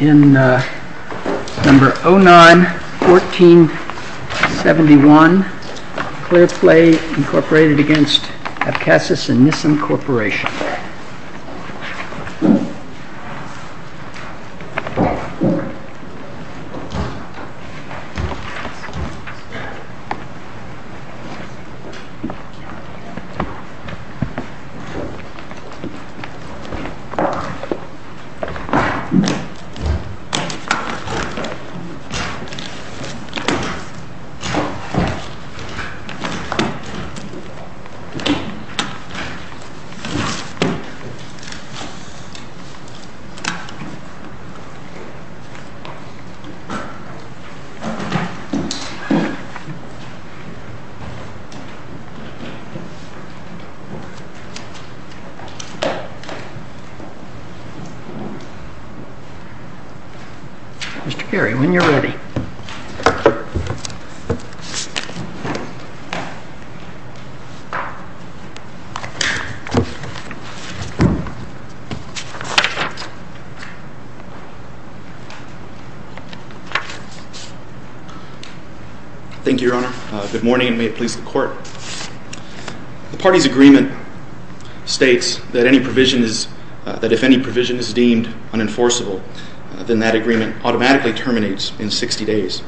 In number 09-1471, Clearplay incorporated against Abkhasis and Nissim Corporation. In number 10-1471, Clearplay incorporated against Abkhasis and Nissim Corporation. Mr. Geary, when you're ready. Thank you, Your Honor. Good morning, and may it please the Court. The party's agreement states that if any provision is deemed unenforceable, then that agreement automatically terminates in 60 days.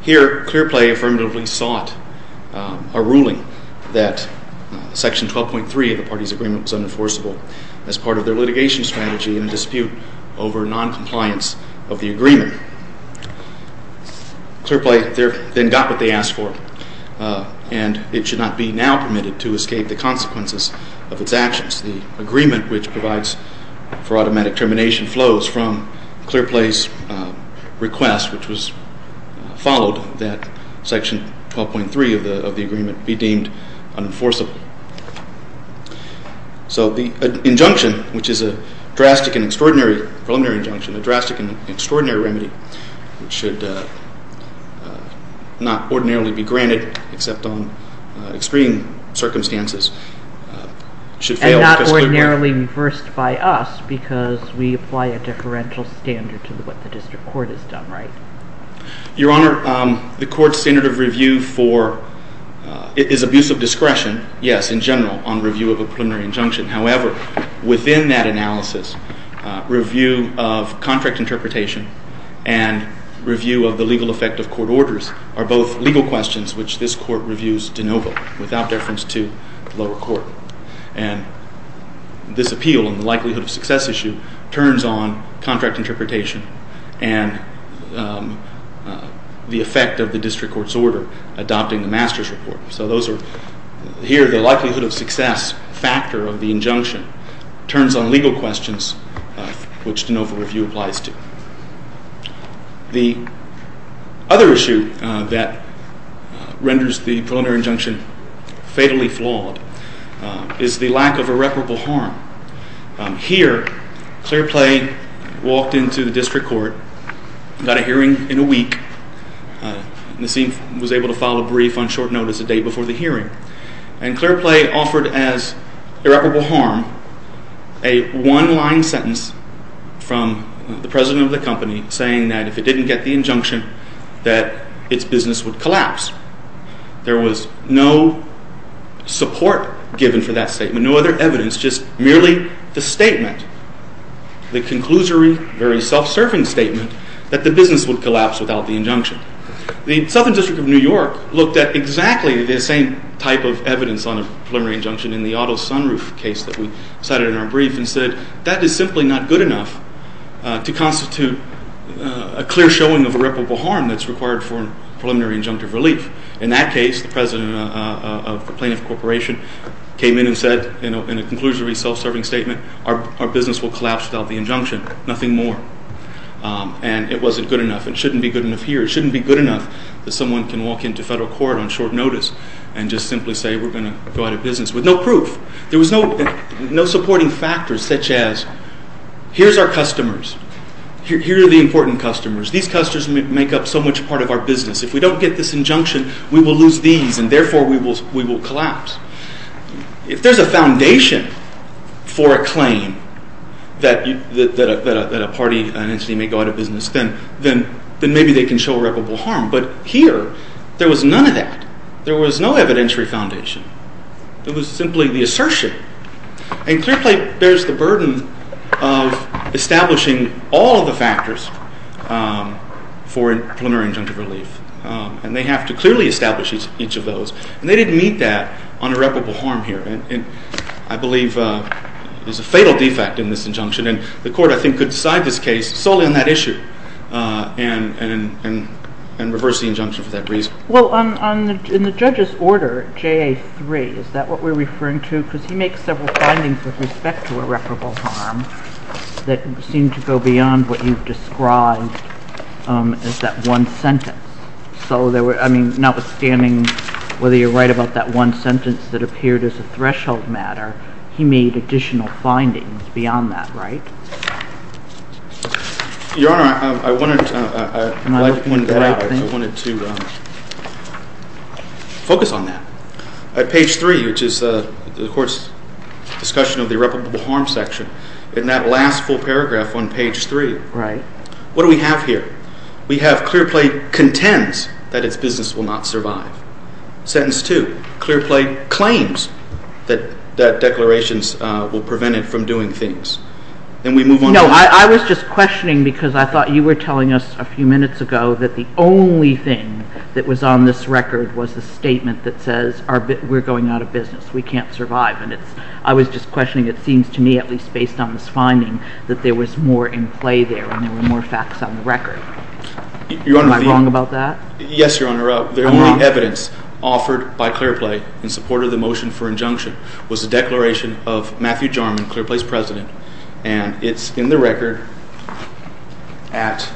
Here, Clearplay affirmatively sought a ruling that section 12.3 of the party's agreement was unenforceable as part of their litigation strategy in a dispute over noncompliance of the agreement. Clearplay then got what they asked for, and it should not be now permitted to escape the consequences of its actions. The agreement which provides for automatic termination flows from Clearplay's request, which was followed that section 12.3 of the agreement be deemed unenforceable. So the injunction, which is a drastic and extraordinary preliminary injunction, a drastic and extraordinary remedy, which should not ordinarily be granted except on extreme circumstances, should fail the fiscal court. And not ordinarily reversed by us because we apply a differential standard to what the district court has done right. Your Honor, the court's standard of review is abuse of discretion. Yes, in general, on review of a preliminary injunction. However, within that analysis, review of contract interpretation and review of the legal effect of court orders are both legal questions which this court reviews de novo without deference to the lower court. And this appeal and the likelihood of success issue turns on contract interpretation and the effect of the district court's order adopting the master's report. So here, the likelihood of success factor of the injunction turns on legal questions, which de novo review applies to. The other issue that renders the preliminary injunction fatally flawed is the lack of irreparable harm. Here, Clearplay walked into the district court, got a hearing in a week, Nassim was able to file a brief on short notice a day before the hearing, and Clearplay offered as irreparable harm a one-line sentence from the president of the company saying that if it didn't get the injunction, that its business would collapse. There was no support given for that statement, no other evidence, just merely the statement, the conclusory, very self-serving statement that the business would collapse without the injunction. The Southern District of New York looked at exactly the same type of evidence on a preliminary injunction in the Otto Sunroof case that we cited in our brief and said, that is simply not good enough to constitute a clear showing of irreparable harm that's required for preliminary injunctive relief. In that case, the president of the plaintiff corporation came in and said, in a conclusory, self-serving statement, our business will collapse without the injunction, nothing more. And it wasn't good enough, it shouldn't be good enough here, it shouldn't be good enough that someone can walk into federal court on short notice and just simply say we're going to go out of business with no proof. There was no supporting factor such as, here's our customers, here are the important customers, these customers make up so much part of our business, if we don't get this injunction, we will lose these and therefore we will collapse. If there's a foundation for a claim that a party, an entity may go out of business, then maybe they can show irreparable harm. But here, there was none of that. There was no evidentiary foundation. It was simply the assertion. And ClearPlate bears the burden of establishing all of the factors for preliminary injunctive relief. And they have to clearly establish each of those. And they didn't meet that on irreparable harm here. And I believe there's a fatal defect in this injunction, and the court, I think, could decide this case solely on that issue and reverse the injunction for that reason. Well, in the judge's order, JA3, is that what we're referring to? Because he makes several findings with respect to irreparable harm that seem to go beyond what you've described as that one sentence. So notwithstanding whether you're right about that one sentence that appeared as a threshold matter, he made additional findings beyond that, right? Your Honor, I wanted to focus on that. At page 3, which is the court's discussion of the irreparable harm section, in that last full paragraph on page 3, what do we have here? We have ClearPlate contends that its business will not survive. Sentence 2, ClearPlate claims that declarations will prevent it from doing things. Then we move on. No, I was just questioning because I thought you were telling us a few minutes ago that the only thing that was on this record was the statement that says we're going out of business, we can't survive. And I was just questioning. It seems to me, at least based on this finding, that there was more in play there and there were more facts on the record. Am I wrong about that? Yes, Your Honor. The only evidence offered by ClearPlate in support of the motion for injunction was the declaration of Matthew Jarman, ClearPlate's president, and it's in the record at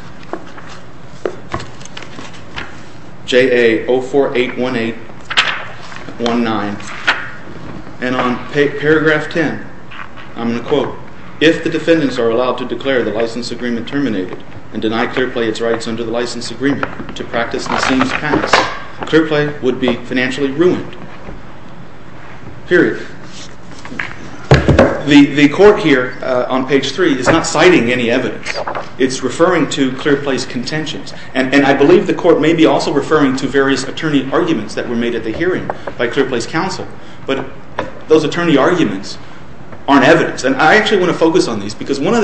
JA 0481819. And on paragraph 10, I'm going to quote, If the defendants are allowed to declare the license agreement terminated and deny ClearPlate its rights under the license agreement to practice Nassim's past, ClearPlate would be financially ruined. Period. The court here on page 3 is not citing any evidence. It's referring to ClearPlate's contentions. And I believe the court may be also referring to various attorney arguments that were made at the hearing by ClearPlate's counsel. But those attorney arguments aren't evidence. And I actually want to focus on these because one of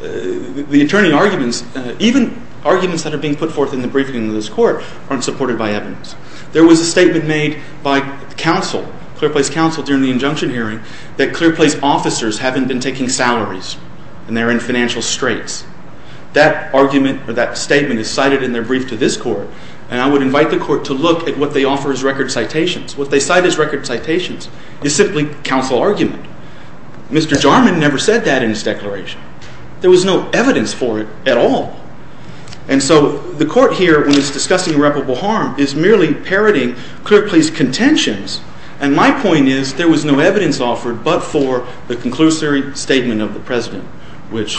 the attorney arguments, even arguments that are being put forth in the briefing of this court, aren't supported by evidence. There was a statement made by counsel, ClearPlate's counsel during the injunction hearing, that ClearPlate's officers haven't been taking salaries and they're in financial straits. That argument or that statement is cited in their brief to this court, and I would invite the court to look at what they offer as record citations. What they cite as record citations is simply counsel argument. Mr. Jarman never said that in his declaration. There was no evidence for it at all. And so the court here, when it's discussing irreparable harm, is merely parroting ClearPlate's contentions. And my point is there was no evidence offered but for the conclusory statement of the president, which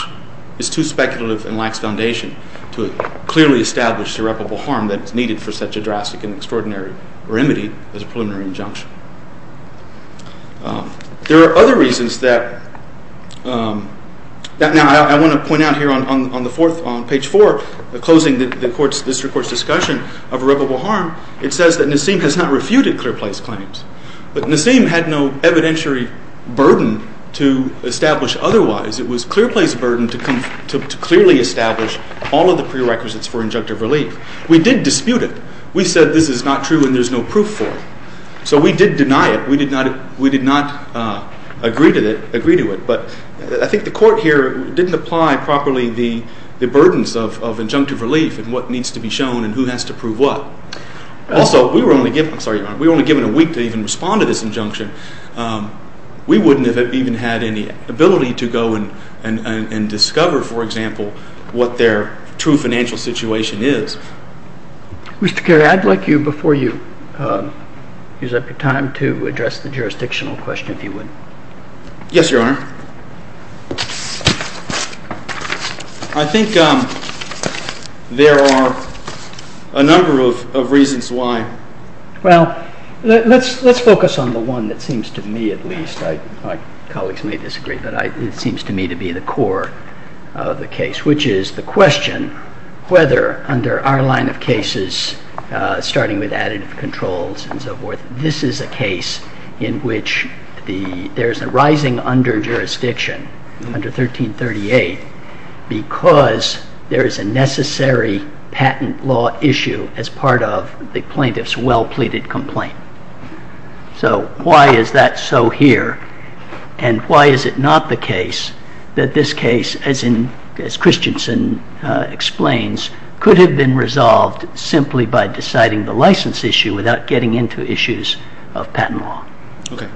is too speculative and lacks foundation to clearly establish irreparable harm that is needed for such a drastic and extraordinary remedy as a preliminary injunction. There are other reasons that, now I want to point out here on page 4, closing this court's discussion of irreparable harm, it says that Nassim has not refuted ClearPlate's claims. But Nassim had no evidentiary burden to establish otherwise. It was ClearPlate's burden to clearly establish all of the prerequisites for injunctive relief. We did dispute it. We said this is not true and there's no proof for it. So we did deny it. We did not agree to it. But I think the court here didn't apply properly the burdens of injunctive relief and what needs to be shown and who has to prove what. Also, we were only given a week to even respond to this injunction. We wouldn't have even had any ability to go and discover, for example, what their true financial situation is. Mr. Carey, I'd like you, before you use up your time, to address the jurisdictional question, if you would. Yes, Your Honor. I think there are a number of reasons why. Well, let's focus on the one that seems to me at least, my colleagues may disagree, but it seems to me to be the core of the case, which is the question whether, under our line of cases, starting with additive controls and so forth, this is a case in which there's a rising under-jurisdiction under 1338 because there is a necessary patent law issue as part of the plaintiff's well-pleaded complaint. So why is that so here? And why is it not the case that this case, as Christensen explains, could have been resolved simply by deciding the license issue without getting into issues of patent law? Okay.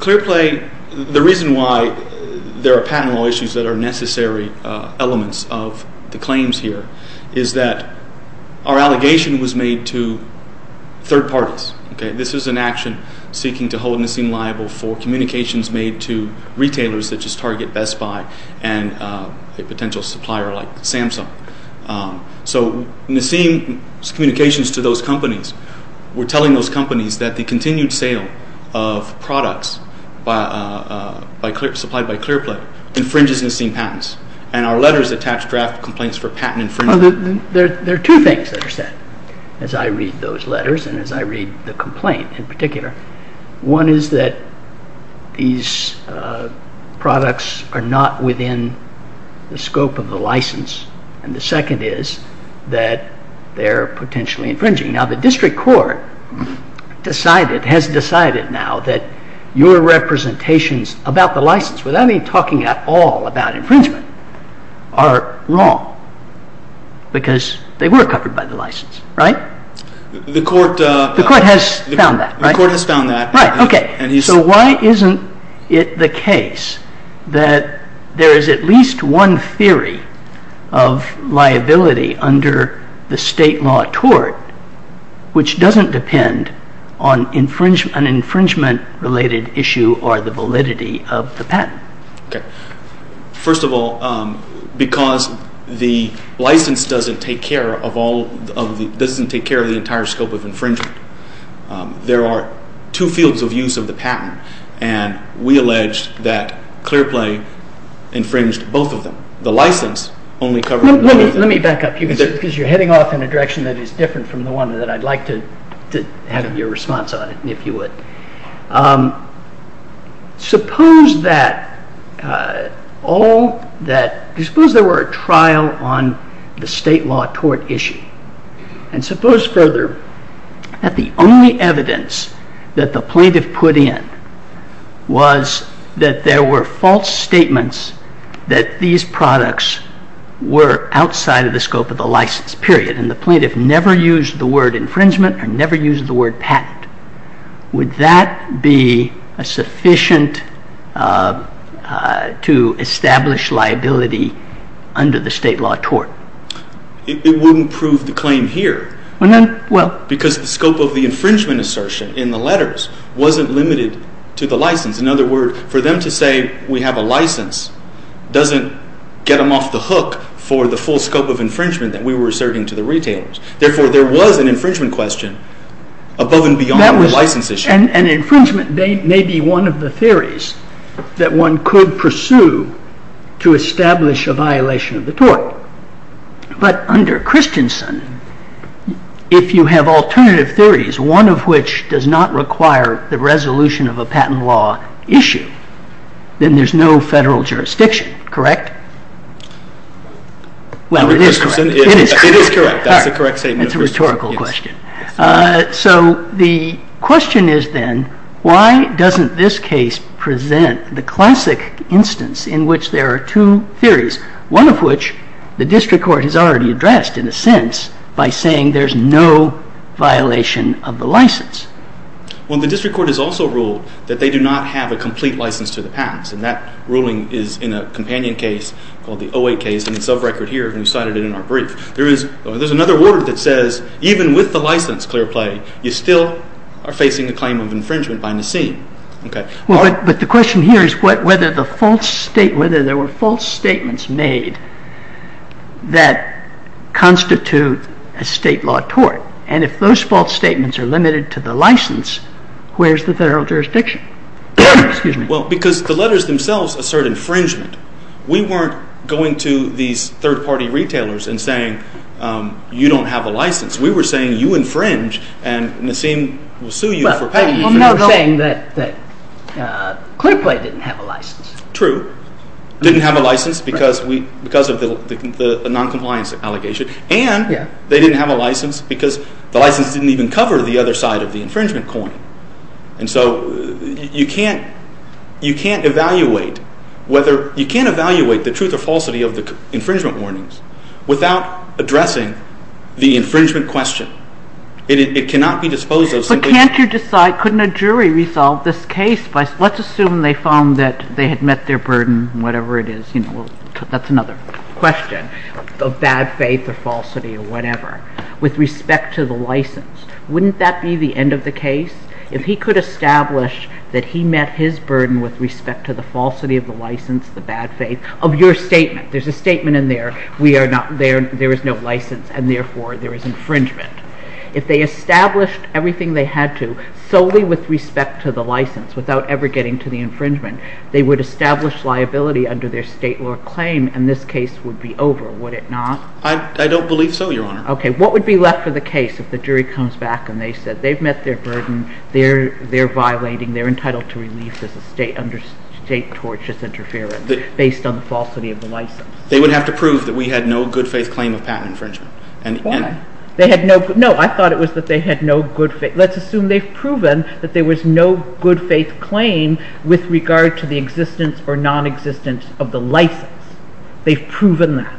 Clearplay, the reason why there are patent law issues that are necessary elements of the claims here is that our allegation was made to third parties. This is an action seeking to hold Nassim liable for communications made to retailers such as Target, Best Buy, and a potential supplier like Samsung. So Nassim's communications to those companies were telling those companies that the continued sale of products supplied by Clearplay infringes Nassim patents, and our letters attach draft complaints for patent infringement. So there are two things that are said as I read those letters and as I read the complaint in particular. One is that these products are not within the scope of the license, and the second is that they're potentially infringing. Now the district court has decided now that your representations about the license, without any talking at all about infringement, are wrong because they were covered by the license, right? The court has found that, right? The court has found that. Right, okay. So why isn't it the case that there is at least one theory of liability under the state law tort which doesn't depend on an infringement-related issue or the validity of the patent? Okay. First of all, because the license doesn't take care of the entire scope of infringement, there are two fields of use of the patent, and we allege that Clearplay infringed both of them. The license only covered both of them. Let me back up because you're heading off in a direction that is different from the one that I'd like to have your response on, if you would. Suppose there were a trial on the state law tort issue, and suppose further that the only evidence that the plaintiff put in was that there were false statements that these products were outside of the scope of the license, period, and the plaintiff never used the word infringement or never used the word patent. Would that be sufficient to establish liability under the state law tort? It wouldn't prove the claim here. Well, then, well. Because the scope of the infringement assertion in the letters wasn't limited to the license. In other words, for them to say we have a license doesn't get them off the hook for the full scope of infringement that we were asserting to the retailers. Therefore, there was an infringement question above and beyond the license issue. An infringement may be one of the theories that one could pursue to establish a violation of the tort. But under Christensen, if you have alternative theories, one of which does not require the resolution of a patent law issue, then there's no federal jurisdiction, correct? Well, it is correct. It is correct. That's a correct statement. It's a rhetorical question. So the question is then, why doesn't this case present the classic instance in which there are two theories, one of which the district court has already addressed, in a sense, by saying there's no violation of the license? Well, the district court has also ruled that they do not have a complete license to the patents. And that ruling is in a companion case called the 08 case. And it's a record here, and we cited it in our brief. There is another word that says even with the license clear play, you still are facing a claim of infringement by Nassim. Okay. Well, but the question here is whether there were false statements made that constitute a state law tort. And if those false statements are limited to the license, where's the federal jurisdiction? Excuse me. Well, because the letters themselves assert infringement. We weren't going to these third-party retailers and saying you don't have a license. We were saying you infringe, and Nassim will sue you for patent infringement. Well, no, they're saying that clear play didn't have a license. True. Didn't have a license because of the noncompliance allegation. And they didn't have a license because the license didn't even cover the other side of the infringement coin. And so you can't evaluate the truth or falsity of the infringement warnings without addressing the infringement question. It cannot be disposed of simply. Can't you decide, couldn't a jury resolve this case? Let's assume they found that they had met their burden, whatever it is. That's another question of bad faith or falsity or whatever. With respect to the license, wouldn't that be the end of the case? If he could establish that he met his burden with respect to the falsity of the license, the bad faith of your statement. There's a statement in there. We are not there. There is no license, and therefore there is infringement. If they established everything they had to solely with respect to the license without ever getting to the infringement, they would establish liability under their state law claim and this case would be over, would it not? I don't believe so, Your Honor. Okay. What would be left for the case if the jury comes back and they said they've met their burden, they're violating, they're entitled to relief as a state under state tortious interference based on the falsity of the license? They would have to prove that we had no good faith claim of patent infringement. Why? No, I thought it was that they had no good faith. Let's assume they've proven that there was no good faith claim with regard to the existence or nonexistence of the license. They've proven that.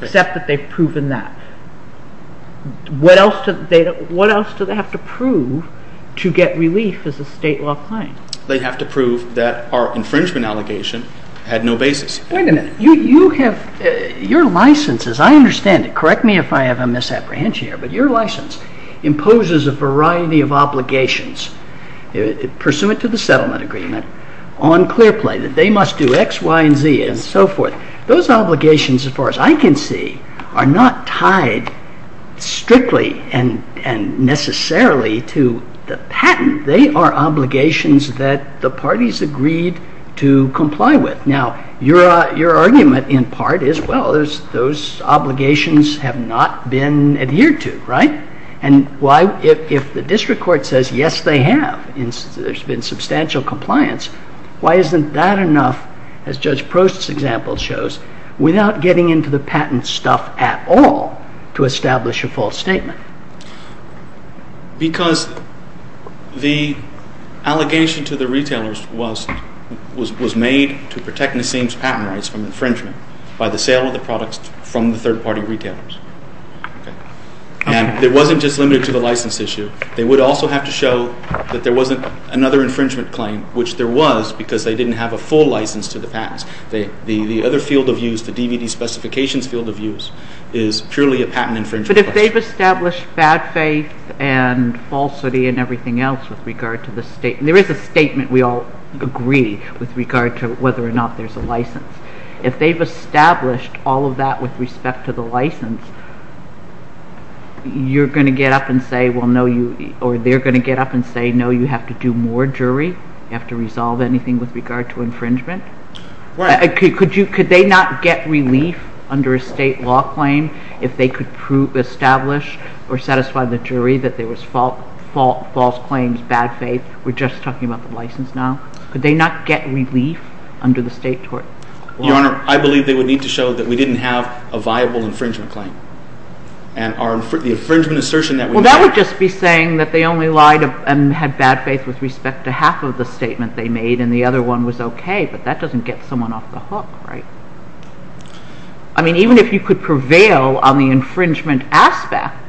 Except that they've proven that. What else do they have to prove to get relief as a state law claim? They have to prove that our infringement allegation had no basis. Wait a minute. Your license, as I understand it, correct me if I have a misapprehension here, but your license imposes a variety of obligations pursuant to the settlement agreement on Clearplay that they must do X, Y, and Z and so forth. Those obligations, as far as I can see, are not tied strictly and necessarily to the patent. They are obligations that the parties agreed to comply with. Now, your argument in part is, well, those obligations have not been adhered to, right? And if the district court says, yes, they have, there's been substantial compliance, why isn't that enough, as Judge Prost's example shows, without getting into the patent stuff at all to establish a false statement? Because the allegation to the retailers was made to protect Nassim's patent rights from infringement by the sale of the products from the third-party retailers. And it wasn't just limited to the license issue. They would also have to show that there wasn't another infringement claim, which there was because they didn't have a full license to the patents. The other field of use, the DVD specifications field of use, is purely a patent infringement. But if they've established bad faith and falsity and everything else with regard to the state, there is a statement we all agree with regard to whether or not there's a license. If they've established all of that with respect to the license, you're going to get up and say, well, no, you, or they're going to get up and say, no, you have to do more, jury. You have to resolve anything with regard to infringement. Could they not get relief under a state law claim if they could establish or satisfy the jury that there was false claims, bad faith? We're just talking about the license now. Could they not get relief under the state law? Your Honor, I believe they would need to show that we didn't have a viable infringement claim. And the infringement assertion that we made… Well, that would just be saying that they only lied and had bad faith with respect to half of the statement they made and the other one was okay, but that doesn't get someone off the hook, right? I mean, even if you could prevail on the infringement aspect,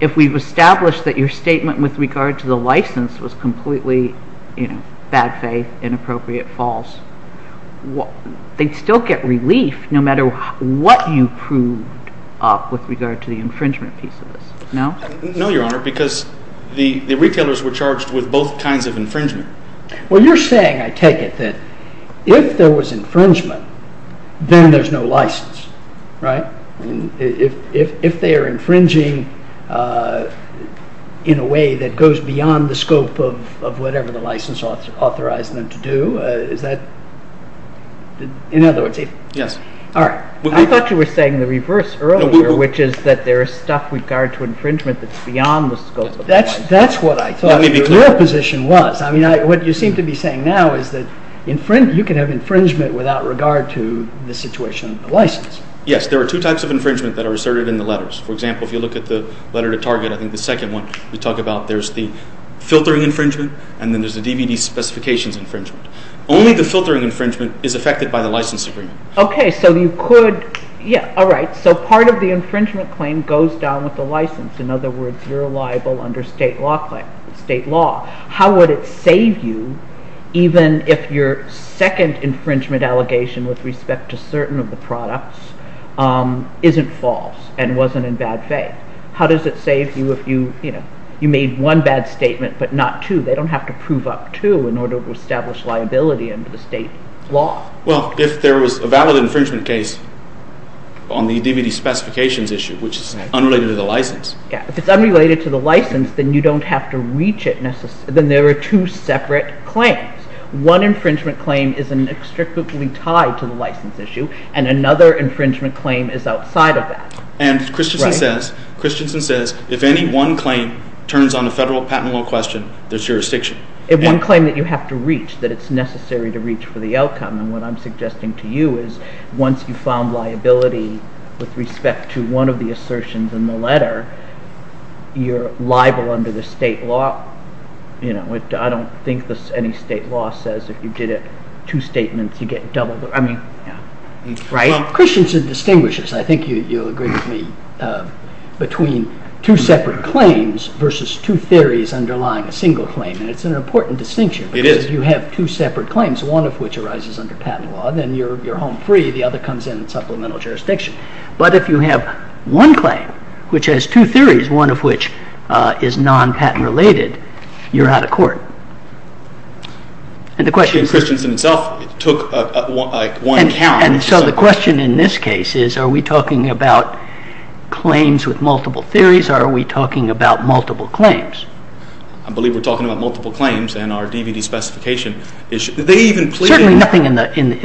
if we've established that your statement with regard to the license was completely bad faith, inappropriate, false, they'd still get relief no matter what you proved up with regard to the infringement piece of this. No? No, Your Honor, because the retailers were charged with both kinds of infringement. Well, you're saying, I take it, that if there was infringement, then there's no license, right? If they are infringing in a way that goes beyond the scope of whatever the license authorized them to do, is that… In other words, if… Yes. All right. I thought you were saying the reverse earlier, which is that there is stuff with regard to infringement that's beyond the scope of the license. That's what I thought your position was. I mean, what you seem to be saying now is that you can have infringement without regard to the situation of the license. Yes. There are two types of infringement that are asserted in the letters. For example, if you look at the letter to Target, I think the second one we talk about, there's the filtering infringement and then there's the DVD specifications infringement. Only the filtering infringement is affected by the license agreement. Okay. So you could… Yeah. All right. So part of the infringement claim goes down with the license. In other words, you're liable under state law. How would it save you even if your second infringement allegation with respect to certain of the products isn't false and wasn't in bad faith? How does it save you if you made one bad statement but not two? They don't have to prove up two in order to establish liability under the state law. Well, if there was a valid infringement case on the DVD specifications issue, which is unrelated to the license… If it's unrelated to the license, then you don't have to reach it necessarily. Then there are two separate claims. One infringement claim is inextricably tied to the license issue, and another infringement claim is outside of that. And Christensen says if any one claim turns on the federal patent law question, there's jurisdiction. If one claim that you have to reach, that it's necessary to reach for the outcome, then what I'm suggesting to you is once you found liability with respect to one of the assertions in the letter, you're liable under the state law. I don't think any state law says if you did it two statements, you get double the… Well, Christensen distinguishes, I think you'll agree with me, between two separate claims versus two theories underlying a single claim. And it's an important distinction. It is. Because if you have two separate claims, one of which arises under patent law, then you're home free. The other comes in supplemental jurisdiction. But if you have one claim, which has two theories, one of which is non-patent related, you're out of court. And the question is… And Christensen himself took one count. And so the question in this case is are we talking about claims with multiple theories, or are we talking about multiple claims? I believe we're talking about multiple claims and our DVD specification issue. They even plead… Certainly nothing in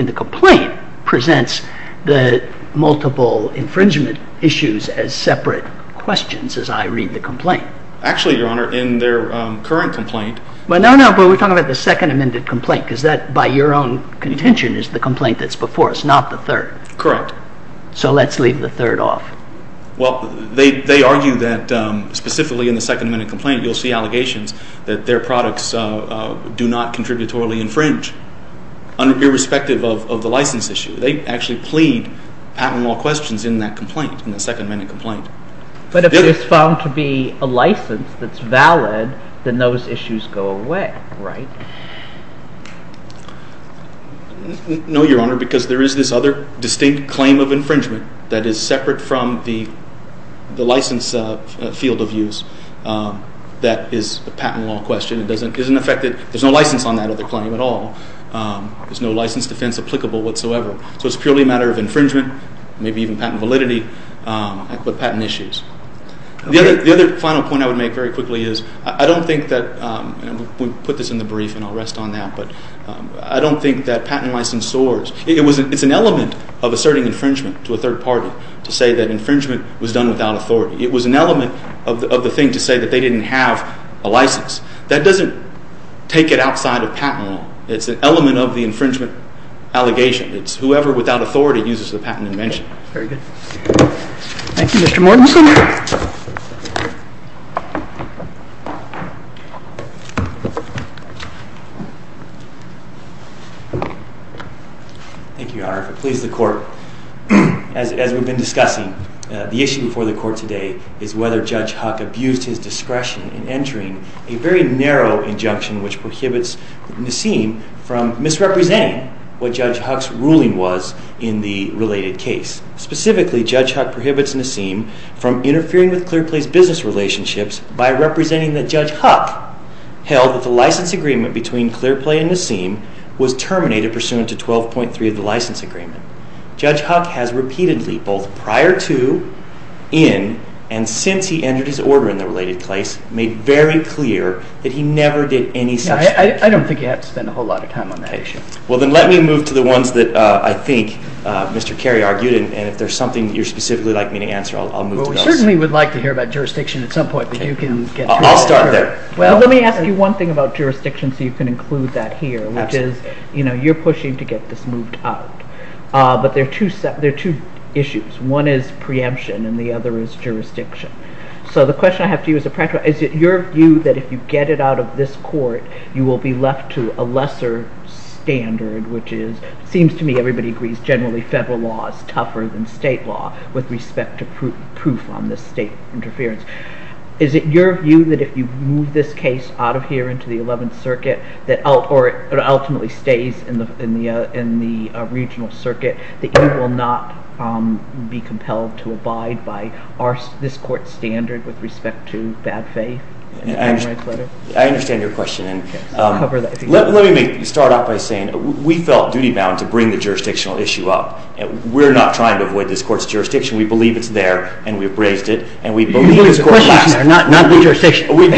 the complaint presents the multiple infringement issues as separate questions as I read the complaint. Actually, Your Honor, in their current complaint… No, no, but we're talking about the second amended complaint because that, by your own contention, is the complaint that's before us, not the third. Correct. So let's leave the third off. Well, they argue that specifically in the second amended complaint you'll see allegations that their products do not contributory infringe, irrespective of the license issue. They actually plead patent law questions in that complaint, in the second amended complaint. But if it is found to be a license that's valid, then those issues go away, right? No, Your Honor, because there is this other distinct claim of infringement that is separate from the license field of use that is a patent law question. It doesn't affect it. There's no license on that other claim at all. There's no license defense applicable whatsoever. So it's purely a matter of infringement, maybe even patent validity, but patent issues. The other final point I would make very quickly is I don't think that, and we'll put this in the brief and I'll rest on that, but I don't think that patent license soars. It's an element of asserting infringement to a third party to say that infringement was done without authority. It was an element of the thing to say that they didn't have a license. That doesn't take it outside of patent law. It's an element of the infringement allegation. It's whoever without authority uses the patent invention. Very good. Thank you, Mr. Morton. Mr. Morton. Thank you, Your Honor. If it pleases the court, as we've been discussing, the issue before the court today is whether Judge Huck abused his discretion in entering a very narrow injunction which prohibits Nassim from misrepresenting what Judge Huck's ruling was in the related case. Specifically, Judge Huck prohibits Nassim from interfering with Clearplay's business relationships by representing that Judge Huck held that the license agreement between Clearplay and Nassim was terminated pursuant to 12.3 of the license agreement. Judge Huck has repeatedly, both prior to, in, and since he entered his order in the related case, made very clear that he never did any such thing. I don't think you have to spend a whole lot of time on that issue. Well, then let me move to the ones that I think Mr. Carey argued, and if there's something you'd specifically like me to answer, I'll move to those. Well, we certainly would like to hear about jurisdiction at some point, but you can get to it later. I'll start there. Well, let me ask you one thing about jurisdiction so you can include that here, which is, you know, you're pushing to get this moved out. But there are two issues. One is preemption, and the other is jurisdiction. So the question I have for you is a practical one. Is it your view that if you get it out of this court, you will be left to a lesser standard, which seems to me everybody agrees generally federal law is tougher than state law with respect to proof on this state interference? Is it your view that if you move this case out of here into the Eleventh Circuit, or it ultimately stays in the regional circuit, that you will not be compelled to abide by this court's standard with respect to bad faith? I understand your question. Let me start off by saying we felt duty-bound to bring the jurisdictional issue up. We're not trying to avoid this court's jurisdiction. We believe it's there, and we've raised it. You believe the question is not the jurisdiction. We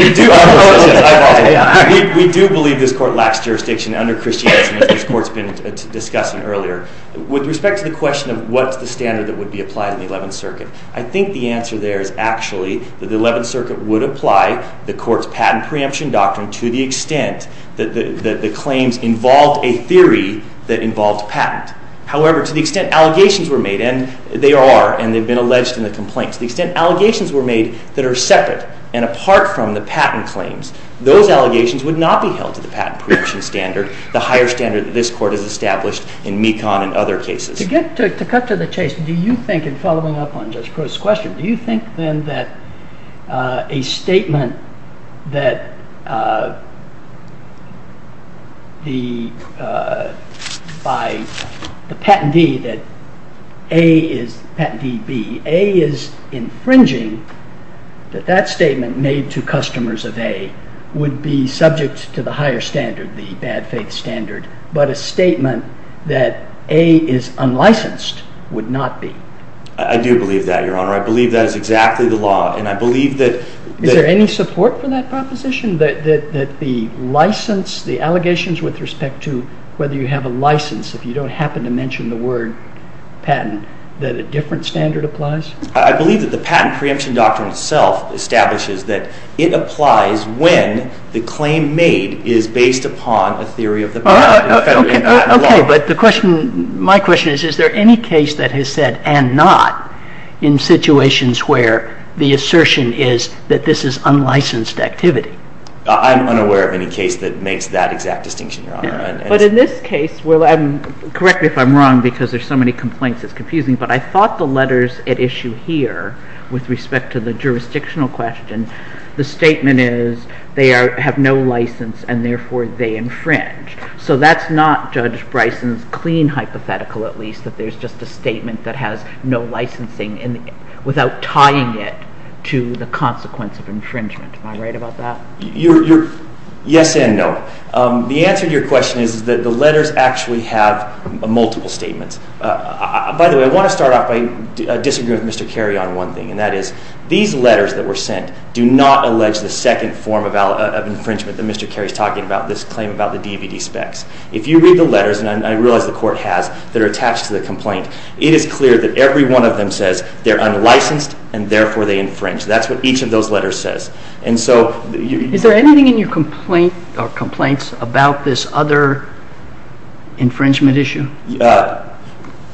do believe this court lacks jurisdiction under Christianity, as this court's been discussing earlier. With respect to the question of what's the standard that would be applied in the Eleventh Circuit, I think the answer there is actually that the Eleventh Circuit would apply the court's patent preemption doctrine to the extent that the claims involved a theory that involved patent. However, to the extent allegations were made, and they are, and they've been alleged in the complaints. To the extent allegations were made that are separate and apart from the patent claims, those allegations would not be held to the patent preemption standard, the higher standard that this court has established in MECON and other cases. To cut to the chase, do you think, in following up on Judge Crow's question, do you think then that a statement by the patentee that A is infringing that that statement made to customers of A would be subject to the higher standard, the bad faith standard, but a statement that A is unlicensed would not be? I do believe that, Your Honor. I believe that is exactly the law, and I believe that... Is there any support for that proposition, that the license, the allegations with respect to whether you have a license, if you don't happen to mention the word patent, that a different standard applies? I believe that the patent preemption doctrine itself establishes that it applies when the claim made is based upon a theory of the patent. Okay, but the question, my question is, is there any case that has said, and not, in situations where the assertion is that this is unlicensed activity? I'm unaware of any case that makes that exact distinction, Your Honor. But in this case, correct me if I'm wrong, because there's so many complaints it's confusing, but I thought the letters at issue here, with respect to the jurisdictional question, the statement is, they have no license, and therefore they infringe. So that's not Judge Bryson's clean hypothetical, at least, that there's just a statement that has no licensing without tying it to the consequence of infringement. Am I right about that? Yes and no. The answer to your question is that the letters actually have multiple statements. By the way, I want to start off by disagreeing with Mr. Carey on one thing, and that is, these letters that were sent do not allege the second form of infringement that Mr. Carey's talking about, this claim about the DVD specs. If you read the letters, and I realize the Court has, that are attached to the complaint, it is clear that every one of them says they're unlicensed, and therefore they infringe. That's what each of those letters says. And so... Is there anything in your complaint or complaints about this other infringement issue?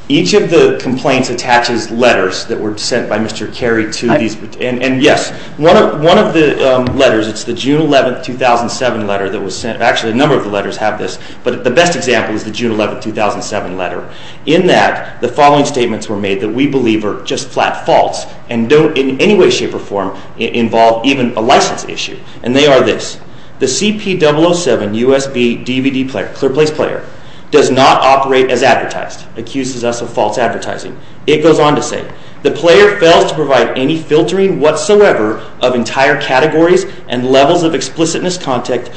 Each of the complaints attaches letters that were sent by Mr. Carey to these, and yes, one of the letters, it's the June 11, 2007 letter that was sent, actually a number of the letters have this, but the best example is the June 11, 2007 letter. In that, the following statements were made that we believe are just flat faults and don't in any way, shape, or form involve even a license issue. And they are this, the CP007 USB DVD player, clear place player, does not operate as advertised, accuses us of false advertising. It goes on to say, the player fails to provide any filtering whatsoever of entire categories and levels of explicitness content,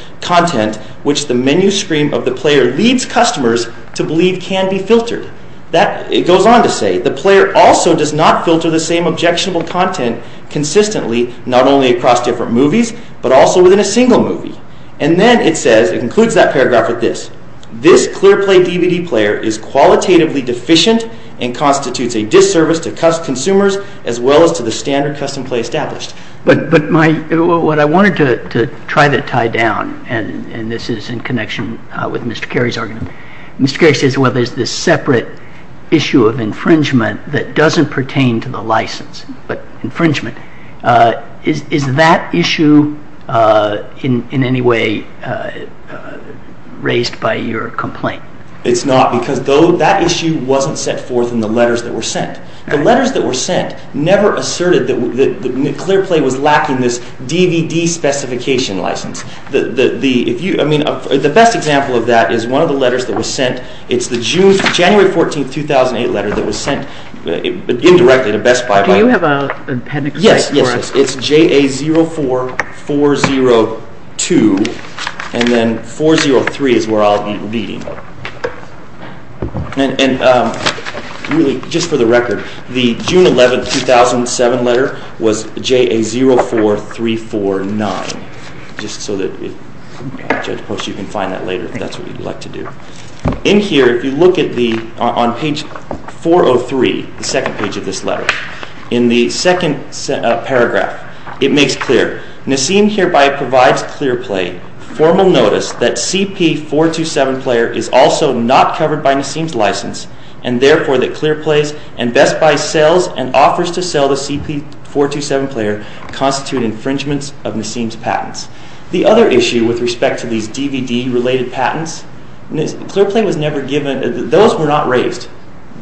which the menu screen of the player leads customers to believe can be filtered. That, it goes on to say, the player also does not filter the same objectionable content consistently, not only across different movies, but also within a single movie. And then it says, it concludes that paragraph with this, this clear play DVD player is qualitatively deficient and constitutes a disservice to customers as well as to the standard custom play established. But my, what I wanted to try to tie down, and this is in connection with Mr. Carey's argument, Mr. Carey says, well, there's this separate issue of infringement that doesn't pertain to the license, but infringement. Is that issue in any way raised by your complaint? It's not, because that issue wasn't set forth in the letters that were sent. The letters that were sent never asserted that the clear play was lacking this DVD specification license. The, if you, I mean, the best example of that is one of the letters that was sent. It's the June, January 14, 2008 letter that was sent indirectly to Best Buy. Do you have an appendix? Yes, yes, yes. It's JA04402, and then 403 is where I'll be leading. And really, just for the record, the June 11, 2007 letter was JA04349. Just so that, Judge Post, you can find that later if that's what you'd like to do. In here, if you look at the, on page 403, the second page of this letter, in the second paragraph, it makes clear, Nassim hereby provides clear play, formal notice that CP427 player is also not covered by Nassim's license, and therefore that clear plays and Best Buy sells and offers to sell the CP427 player constitute infringements of Nassim's patents. The other issue with respect to these DVD related patents, clear play was never given, those were not raised.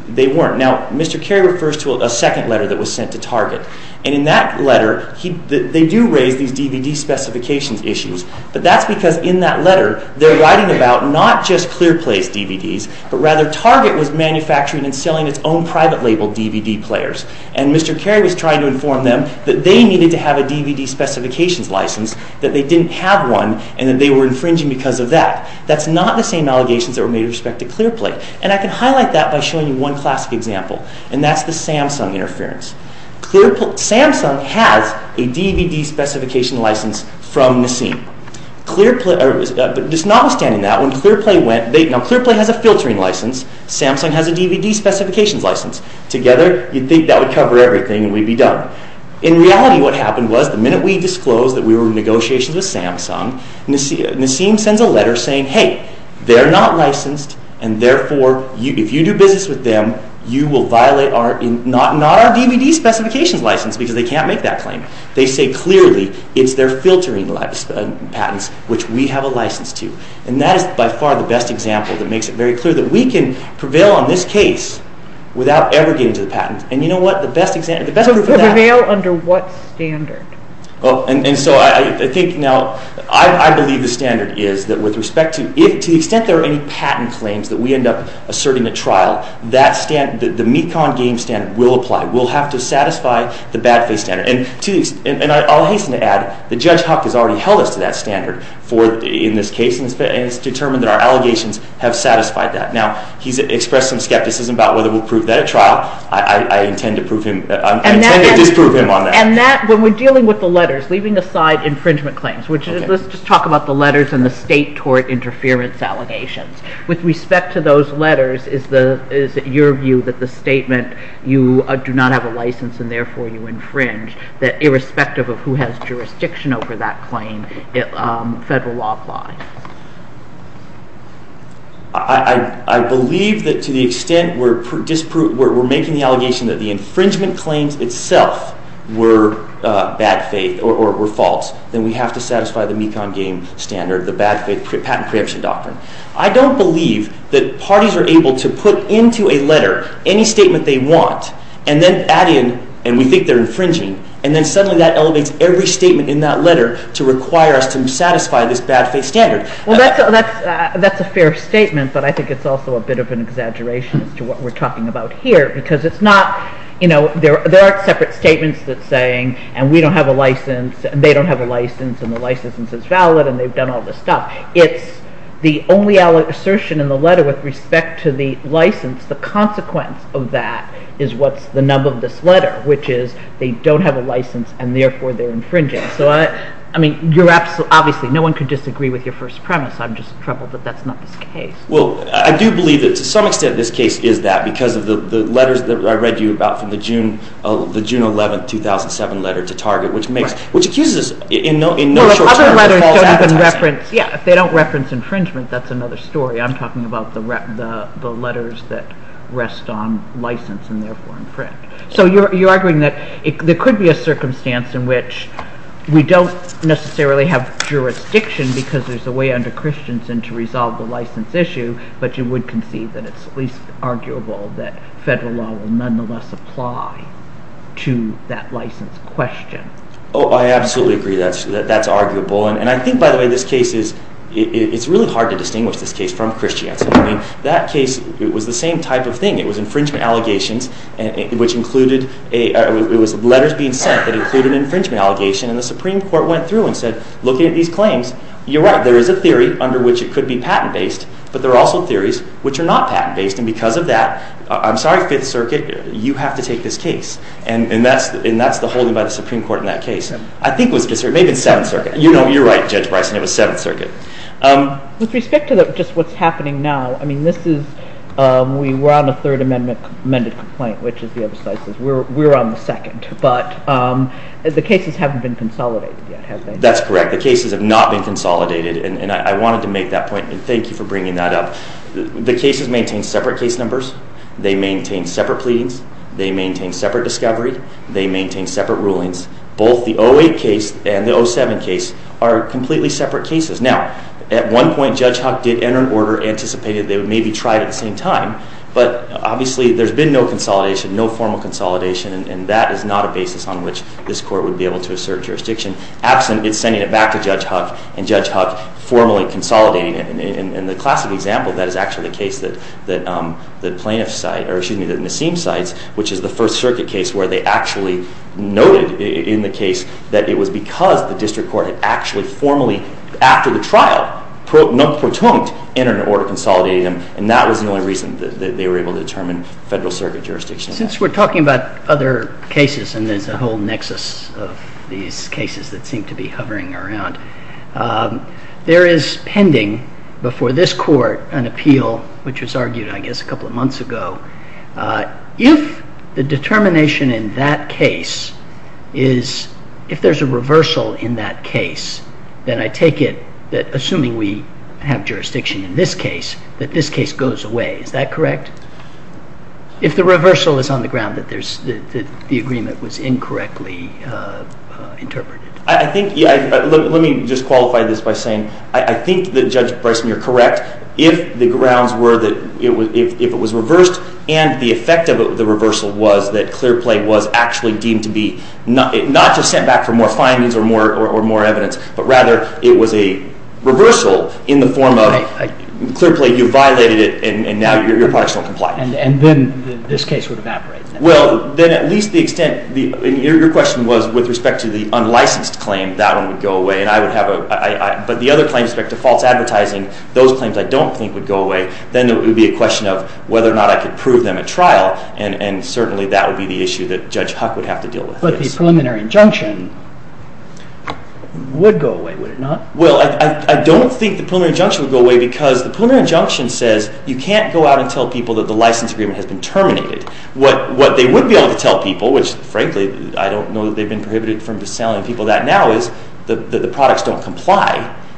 They weren't. Now, Mr. Carey refers to a second letter that was sent to Target. And in that letter, they do raise these DVD specifications issues. But that's because in that letter, they're writing about not just clear place DVDs, but rather Target was manufacturing and selling its own private label DVD players. And Mr. Carey was trying to inform them that they needed to have a DVD specifications license, that they didn't have one, and that they were infringing because of that. That's not the same allegations that were made with respect to clear play. And I can highlight that by showing you one classic example. And that's the Samsung interference. Samsung has a DVD specification license from Nassim. Just notwithstanding that, when clear play went, now clear play has a filtering license, Samsung has a DVD specifications license. Together, you'd think that would cover everything and we'd be done. In reality, what happened was the minute we disclosed that we were in negotiations with Samsung, Nassim sends a letter saying, hey, they're not licensed, and therefore if you do business with them, you will violate not our DVD specifications license because they can't make that claim. They say clearly it's their filtering patents, which we have a license to. And that is by far the best example that makes it very clear that we can prevail on this case without ever getting to the patent. And you know what? The best example, the best proof of that. So prevail under what standard? And so I think now I believe the standard is that with respect to, to the extent there are any patent claims that we end up asserting at trial, the MECON game standard will apply. We'll have to satisfy the bad faith standard. And I'll hasten to add that Judge Huck has already held us to that standard in this case and has determined that our allegations have satisfied that. Now, he's expressed some skepticism about whether we'll prove that at trial. I intend to disprove him on that. And that, when we're dealing with the letters, leaving aside infringement claims, let's just talk about the letters and the state tort interference allegations. With respect to those letters, is it your view that the statement, you do not have a license and therefore you infringe, that irrespective of who has jurisdiction over that claim, federal law applies? I believe that to the extent we're making the allegation that the infringement claims itself were bad faith or were false, then we have to satisfy the MECON game standard, the patent preemption doctrine. I don't believe that parties are able to put into a letter any statement they want and then add in, and we think they're infringing, and then suddenly that elevates every statement in that letter to require us to satisfy this bad faith standard. Well, that's a fair statement, but I think it's also a bit of an exaggeration as to what we're talking about here, because it's not, you know, there aren't separate statements that are saying, and we don't have a license, and they don't have a license, and the license isn't valid, and they've done all this stuff. It's the only assertion in the letter with respect to the license. The consequence of that is what's the nub of this letter, which is they don't have a license and therefore they're infringing. So, I mean, obviously no one could disagree with your first premise. I'm just troubled that that's not the case. Well, I do believe that to some extent this case is that because of the letters that I read you about from the June 11, 2007 letter to Target, which accuses us in no short term of false advertising. Well, if other letters don't even reference, if they don't reference infringement, that's another story. I'm talking about the letters that rest on license and therefore in print. So you're arguing that there could be a circumstance in which we don't necessarily have jurisdiction because there's a way under Christensen to resolve the license issue, but you would concede that it's at least arguable that federal law will nonetheless apply to that license question. Oh, I absolutely agree that that's arguable. And I think, by the way, this case is, it's really hard to distinguish this case from Christensen. I mean, that case, it was the same type of thing. It was infringement allegations, which included, it was letters being sent that included infringement allegations, and the Supreme Court went through and said, looking at these claims, you're right, there is a theory under which it could be patent-based, but there are also theories which are not patent-based, and because of that, I'm sorry, Fifth Circuit, you have to take this case. And that's the holding by the Supreme Court in that case. I think it was Fifth Circuit, maybe it's Seventh Circuit. You know, you're right, Judge Bryson, it was Seventh Circuit. With respect to just what's happening now, I mean, this is, we were on a Third Amendment amended complaint, which is the other side says we're on the second, but the cases haven't been consolidated yet, have they? That's correct. The cases have not been consolidated, and I wanted to make that point, and thank you for bringing that up. The cases maintain separate case numbers. They maintain separate pleadings. They maintain separate discovery. They maintain separate rulings. Both the 08 case and the 07 case are completely separate cases. Now, at one point, Judge Huck did enter an order anticipating they would maybe try it at the same time, but obviously there's been no consolidation, no formal consolidation, and that is not a basis on which this Court would be able to assert jurisdiction. Absent, it's sending it back to Judge Huck, and Judge Huck formally consolidating it. In the classic example, that is actually the case that the plaintiff's side, or excuse me, the Nassim side, which is the First Circuit case, where they actually noted in the case that it was because the District Court had actually formally, after the trial, not protunct, entered an order consolidating them, and that was the only reason that they were able to determine Federal Circuit jurisdiction. Since we're talking about other cases, and there's a whole nexus of these cases that seem to be hovering around, there is pending before this Court an appeal which was argued, I guess, a couple of months ago. If the determination in that case is... If there's a reversal in that case, then I take it that, assuming we have jurisdiction in this case, that this case goes away. Is that correct? If the reversal is on the ground that the agreement was incorrectly interpreted. I think... Let me just qualify this by saying I think that Judge Bryson, you're correct. If the grounds were that if it was reversed and the effect of the reversal was that clear play was actually deemed to be... Not just sent back for more findings or more evidence, but rather it was a reversal in the form of clear play, you violated it, and now your products don't comply. And then this case would evaporate. Well, then at least the extent... Your question was with respect to the unlicensed claim, that one would go away, and I would have a... But the other claims with respect to false advertising, those claims I don't think would go away. Then it would be a question of whether or not I could prove them at trial, and certainly that would be the issue that Judge Huck would have to deal with. But the preliminary injunction would go away, would it not? Well, I don't think the preliminary injunction would go away because the preliminary injunction says you can't go out and tell people that the license agreement has been terminated. What they would be able to tell people, which frankly I don't know that they've been prohibited from selling people that now, is that the products don't comply,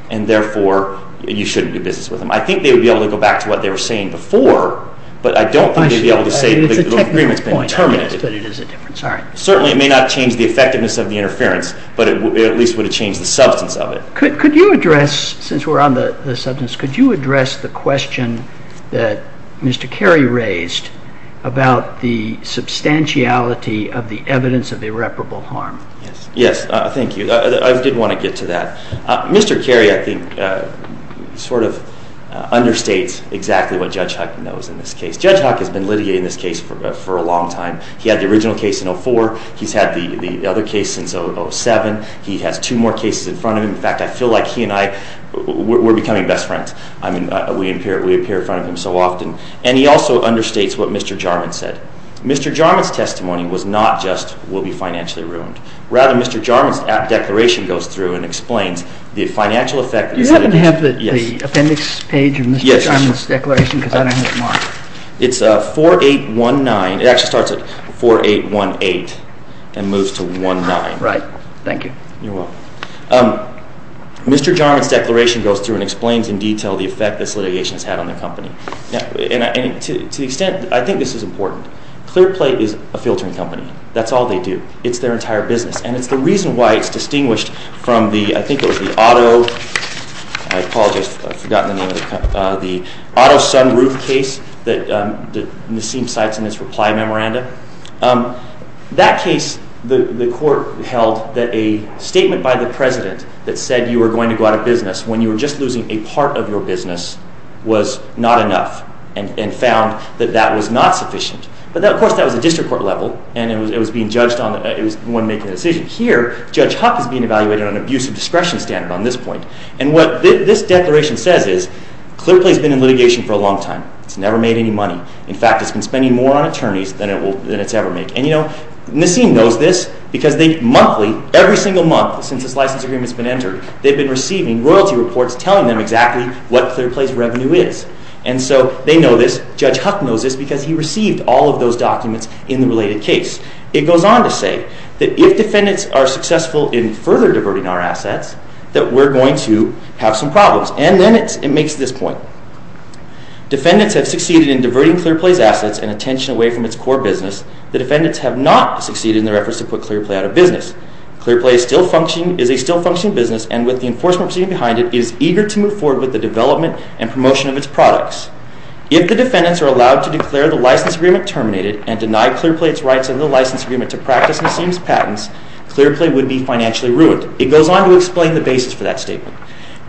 and therefore you shouldn't do business with them. I think they would be able to go back to what they were saying before, but I don't think they'd be able to say that the agreement's been terminated. Certainly it may not change the effectiveness of the interference, but it at least would have changed the substance of it. Could you address, since we're on the substance, could you address the question that Mr. Carey raised about the substantiality of the evidence of irreparable harm? Yes, thank you. I did want to get to that. Mr. Carey, I think, sort of understates exactly what Judge Huck knows in this case. Judge Huck has been litigating this case for a long time, he had the original case in 2004, he's had the other case since 2007, he has two more cases in front of him. In fact, I feel like he and I, we're becoming best friends. I mean, we appear in front of him so often. And he also understates what Mr. Jarman said. Mr. Jarman's testimony was not just, we'll be financially ruined. Rather, Mr. Jarman's declaration goes through and explains the financial effect. Do you happen to have the appendix page of Mr. Jarman's declaration, because I don't have mine. It's 4819. It actually starts at 4818 and moves to 19. Right. Thank you. You're welcome. Mr. Jarman's declaration goes through and explains in detail the effect this litigation has had on the company. And to the extent, I think this is important, ClearPlate is a filtering company. That's all they do. It's their entire business. And it's the reason why it's distinguished from the, I think it was the auto, I apologize, I've forgotten the name of the company, the auto sunroof case that Nassim cites in his reply memorandum. That case, the court held that a statement by the president that said you were going to go out of business when you were just losing a part of your business was not enough and found that that was not sufficient. But of course, that was a district court level and it was being judged on when making a decision. Here, Judge Huck is being evaluated on abuse of discretion standard on this point. And what this declaration says is ClearPlate's been in litigation for a long time. It's never made any money. In fact, it's been spending more on attorneys than it's ever made. And you know, Nassim knows this because they monthly, every single month since this license agreement's been entered, they've been receiving royalty reports telling them exactly what ClearPlate's revenue is. And so they know this. Judge Huck knows this because he received all of those documents in the related case. It goes on to say that if defendants are successful in further diverting our assets, that we're going to have some problems. And then it makes this point. Defendants have succeeded in diverting ClearPlate's assets and attention away from its core business. The defendants have not succeeded in their efforts to put ClearPlate out of business. ClearPlate is a still functioning business and with the enforcement proceeding behind it is eager to move forward with the development and promotion of its products. If the defendants are allowed to declare the license agreement terminated and deny ClearPlate's rights under the license agreement to practice Nassim's patents, ClearPlate would be financially ruined. It goes on to explain the basis for that statement.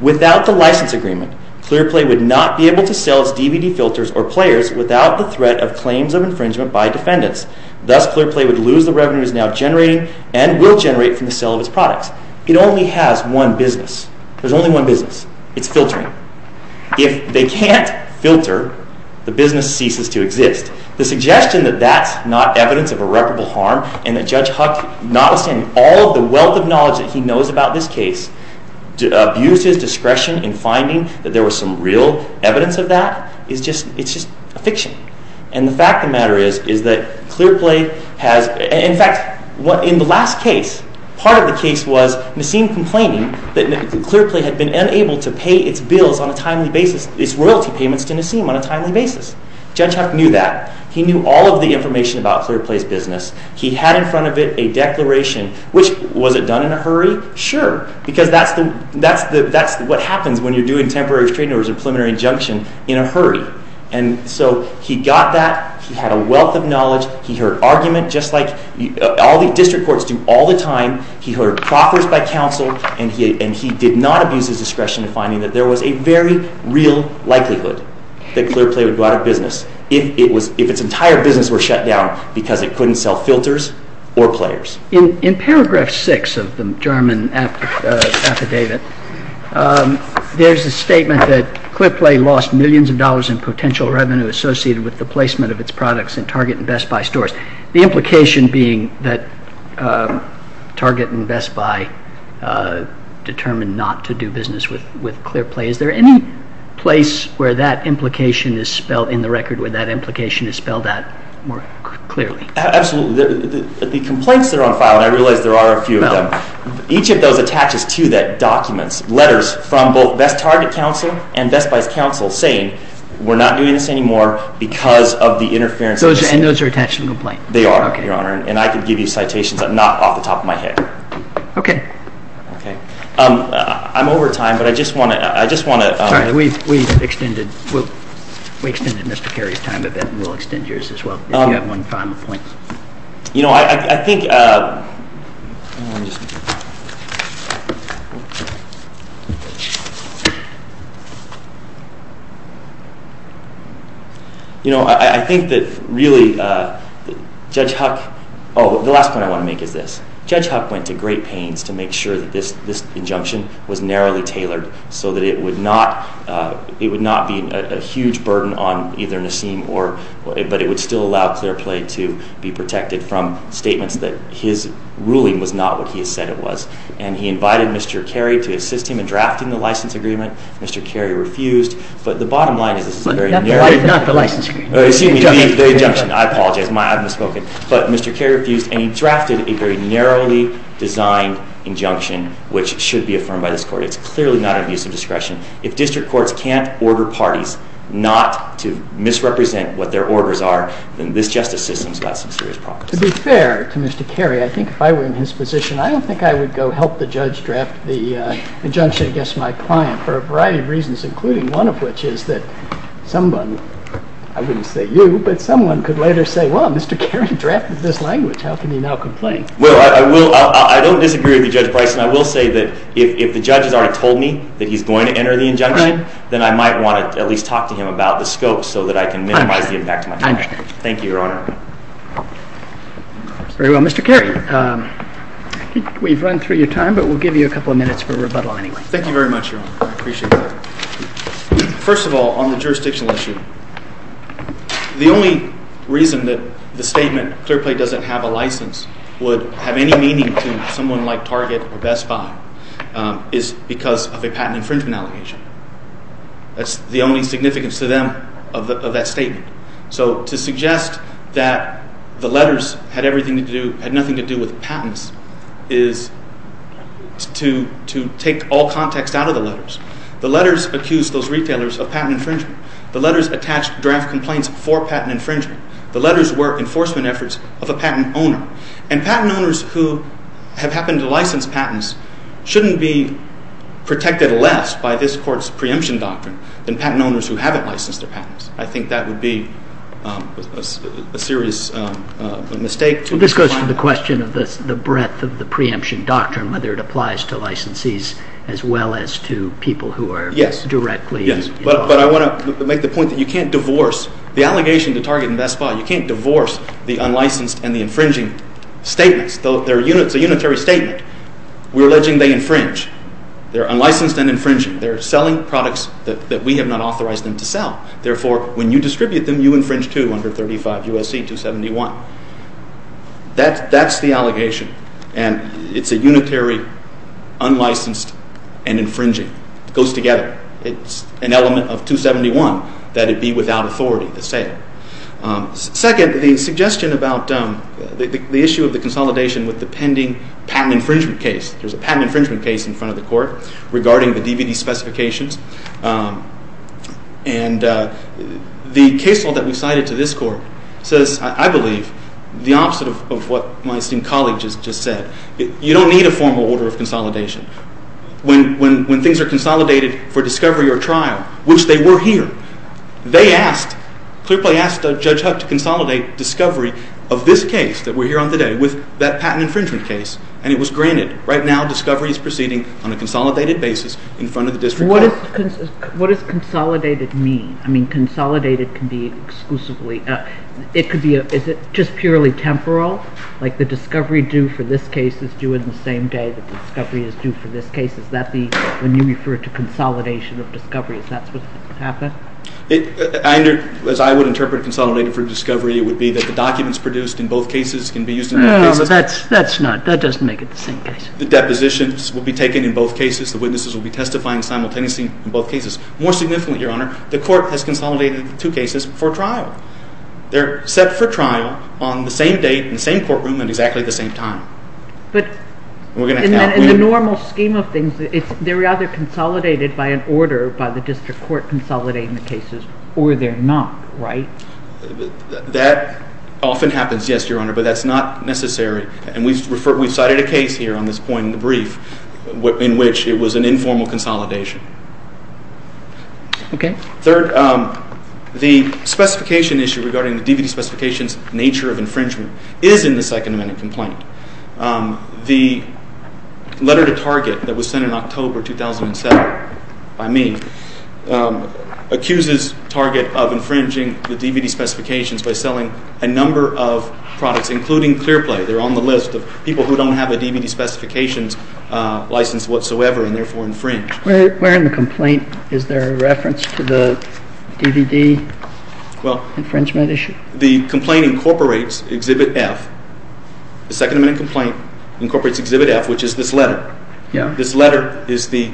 Without the license agreement, ClearPlate would not be able to sell its DVD filters or players without the threat of claims of infringement by defendants. Thus, ClearPlate would lose the revenues now generating and will generate from the sale of its products. It only has one business. There's only one business. It's filtering. If they can't filter, the business ceases to exist. The suggestion that that's not evidence of irreparable harm and that Judge Huck, notwithstanding all of the wealth of knowledge that he knows about this case, abused his discretion in finding that there was some real evidence of that is just a fiction. And the fact of the matter is that ClearPlate has... In fact, in the last case, part of the case was Nassim complaining that ClearPlate had been unable to pay its bills on a timely basis, its royalty payments to Nassim on a timely basis. Judge Huck knew that. He knew all of the information about ClearPlate's business. He had in front of it a declaration, which, was it done in a hurry? Sure. Because that's what happens when you're doing temporary restraining orders or preliminary injunction in a hurry. And so he got that. He had a wealth of knowledge. He heard argument, just like all the district courts do all the time. He heard proffers by counsel. And he did not abuse his discretion in finding that there was a very real likelihood that ClearPlate would go out of business if its entire business were shut down because it couldn't sell filters or players. In paragraph 6 of the German affidavit, there's a statement that ClearPlate lost millions of dollars in potential revenue associated with the placement of its products in Target and Best Buy stores. The implication being that Target and Best Buy determined not to do business with ClearPlate. Is there any place where that implication is spelled in the record, where that implication is spelled out more clearly? Absolutely. The complaints that are on file, and I realize there are a few of them, each of those attaches to the documents, letters from both Best Target counsel and Best Buy's counsel saying we're not doing this anymore because of the interference. And those are attached to the complaint? They are, Your Honor. And I can give you citations not off the top of my head. Okay. Okay. I'm over time, but I just want to... Sorry. We extended Mr. Carey's time a bit and we'll extend yours as well if you have one final point. You know, I think... You know, I think that really Judge Huck... Oh, the last point I want to make is this. Judge Huck went to great pains to make sure that this injunction was narrowly tailored so that it would not be a huge burden on either Nassim or... to allow clear play to be protected from statements that his ruling was not what he said it was. And he invited Mr. Carey to assist him in drafting the license agreement. Mr. Carey refused. But the bottom line is... Not the license agreement. Excuse me, the injunction. I apologize. I've misspoken. But Mr. Carey refused and he drafted a very narrowly designed injunction which should be affirmed by this Court. It's clearly not an abuse of discretion. If district courts can't order parties not to misrepresent what their orders are then this justice system's got some serious problems. To be fair to Mr. Carey, I think if I were in his position I don't think I would go help the judge draft the injunction against my client for a variety of reasons including one of which is that someone... I wouldn't say you, but someone could later say, well, Mr. Carey drafted this language. How can he now complain? Well, I don't disagree with you, Judge Bryson. I will say that if the judge has already told me that he's going to enter the injunction then I might want to at least talk to him about the scope so that I can minimize the impact on my client. I understand. Thank you, Your Honor. Very well. Mr. Carey, we've run through your time but we'll give you a couple of minutes for rebuttal anyway. Thank you very much, Your Honor. I appreciate that. First of all, on the jurisdictional issue, the only reason that the statement Clearplay doesn't have a license would have any meaning to someone like Target or Best Buy is because of a patent infringement allegation. That's the only significance to them of that statement. So to suggest that the letters had nothing to do with patents is to take all context out of the letters. The letters accused those retailers of patent infringement. The letters attached draft complaints for patent infringement. The letters were enforcement efforts of a patent owner. And patent owners who have happened to license patents shouldn't be protected less by this court's preemption doctrine than patent owners who haven't licensed their patents. I think that would be a serious mistake. This goes to the question of the breadth of the preemption doctrine, whether it applies to licensees as well as to people who are directly involved. Yes, but I want to make the point that you can't divorce the allegation to Target and Best Buy. You can't divorce the unlicensed and the infringing statements. It's a unitary statement. We're alleging they infringe. They're unlicensed and infringing. They're selling products that we have not authorized them to sell. Therefore, when you distribute them, you infringe too under 35 U.S.C. 271. That's the allegation. And it's a unitary, unlicensed, and infringing. It goes together. It's an element of 271 that it be without authority to say it. Second, the suggestion about the issue of the consolidation with the pending patent infringement case. There's a patent infringement case in front of the court regarding the DVD specifications. And the case law that we cited to this court says, I believe, the opposite of what my esteemed colleague just said. You don't need a formal order of consolidation. When things are consolidated for discovery or trial, which they were here, they asked, Clearplay asked Judge Huck to consolidate discovery of this case that we're here on today with that patent infringement case. And it was granted. Right now, discovery is proceeding on a consolidated basis in front of the district court. What does consolidated mean? I mean, consolidated can be exclusively. Is it just purely temporal? Like the discovery due for this case is due in the same day that the discovery is due for this case. Is that when you refer to consolidation of discovery? Is that what happened? As I would interpret consolidated for discovery, it would be that the documents produced in both cases can be used in both cases. No, that's not. That doesn't make it the same case. The depositions will be taken in both cases. The witnesses will be testifying simultaneously in both cases. More significantly, Your Honor, the court has consolidated the two cases for trial. They're set for trial on the same date in the same courtroom at exactly the same time. But in the normal scheme of things, they're either consolidated by an order by the district court consolidating the cases, or they're not, right? That often happens, yes, Your Honor, but that's not necessary. And we've cited a case here on this point in the brief in which it was an informal consolidation. Okay. Third, the specification issue regarding the DVD specifications nature of infringement is in the Second Amendment complaint. The letter to Target that was sent in October 2007 by me accuses Target of infringing the DVD specifications by selling a number of products, including Clearplay. They're on the list of people who don't have a DVD specifications license whatsoever and therefore infringe. Where in the complaint is there a reference to the DVD infringement issue? The complaint incorporates Exhibit F. The Second Amendment complaint incorporates Exhibit F, which is this letter. This letter is the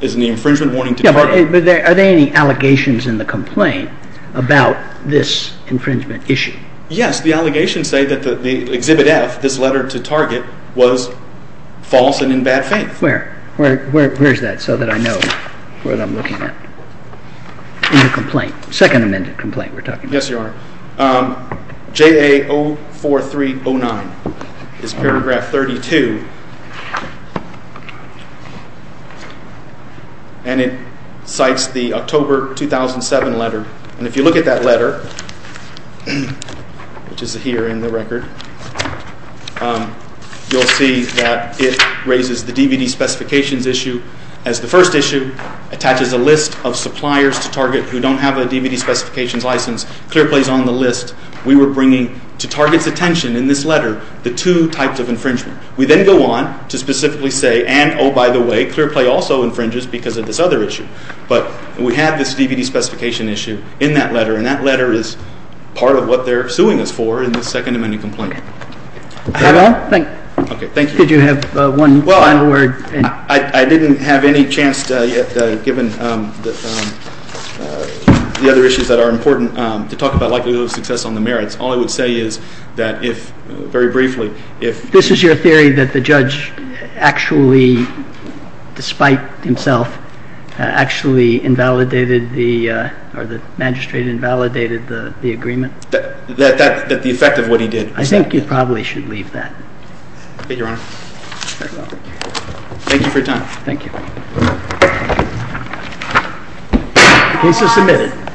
infringement warning to Target. Are there any allegations in the complaint about this infringement issue? Yes. The allegations say that the Exhibit F, this letter to Target, was false and in bad faith. Where? Where is that so that I know what I'm looking at? In the complaint. Second Amendment complaint we're talking about. Yes, Your Honor. JA-04309 is paragraph 32. And it cites the October 2007 letter. And if you look at that letter, which is here in the record, you'll see that it raises the DVD specifications issue as the first issue, attaches a list of suppliers to Target who don't have a DVD specifications license. Clearplay is on the list. We were bringing to Target's attention in this letter the two types of infringement. We then go on to specifically say, and oh, by the way, Clearplay also infringes because of this other issue. But we have this DVD specification issue in that letter, and that letter is part of what they're suing us for in the Second Amendment complaint. Thank you. Could you have one final word? I didn't have any chance given the other issues that are important to talk about likelihood of success on the merits. All I would say is that if, very briefly, if... This is your theory that the judge actually, despite himself, actually invalidated the, or the magistrate invalidated the agreement? That the effect of what he did. I think you probably should leave that. Thank you, Your Honor. Thank you for your time. Thank you. The case is submitted.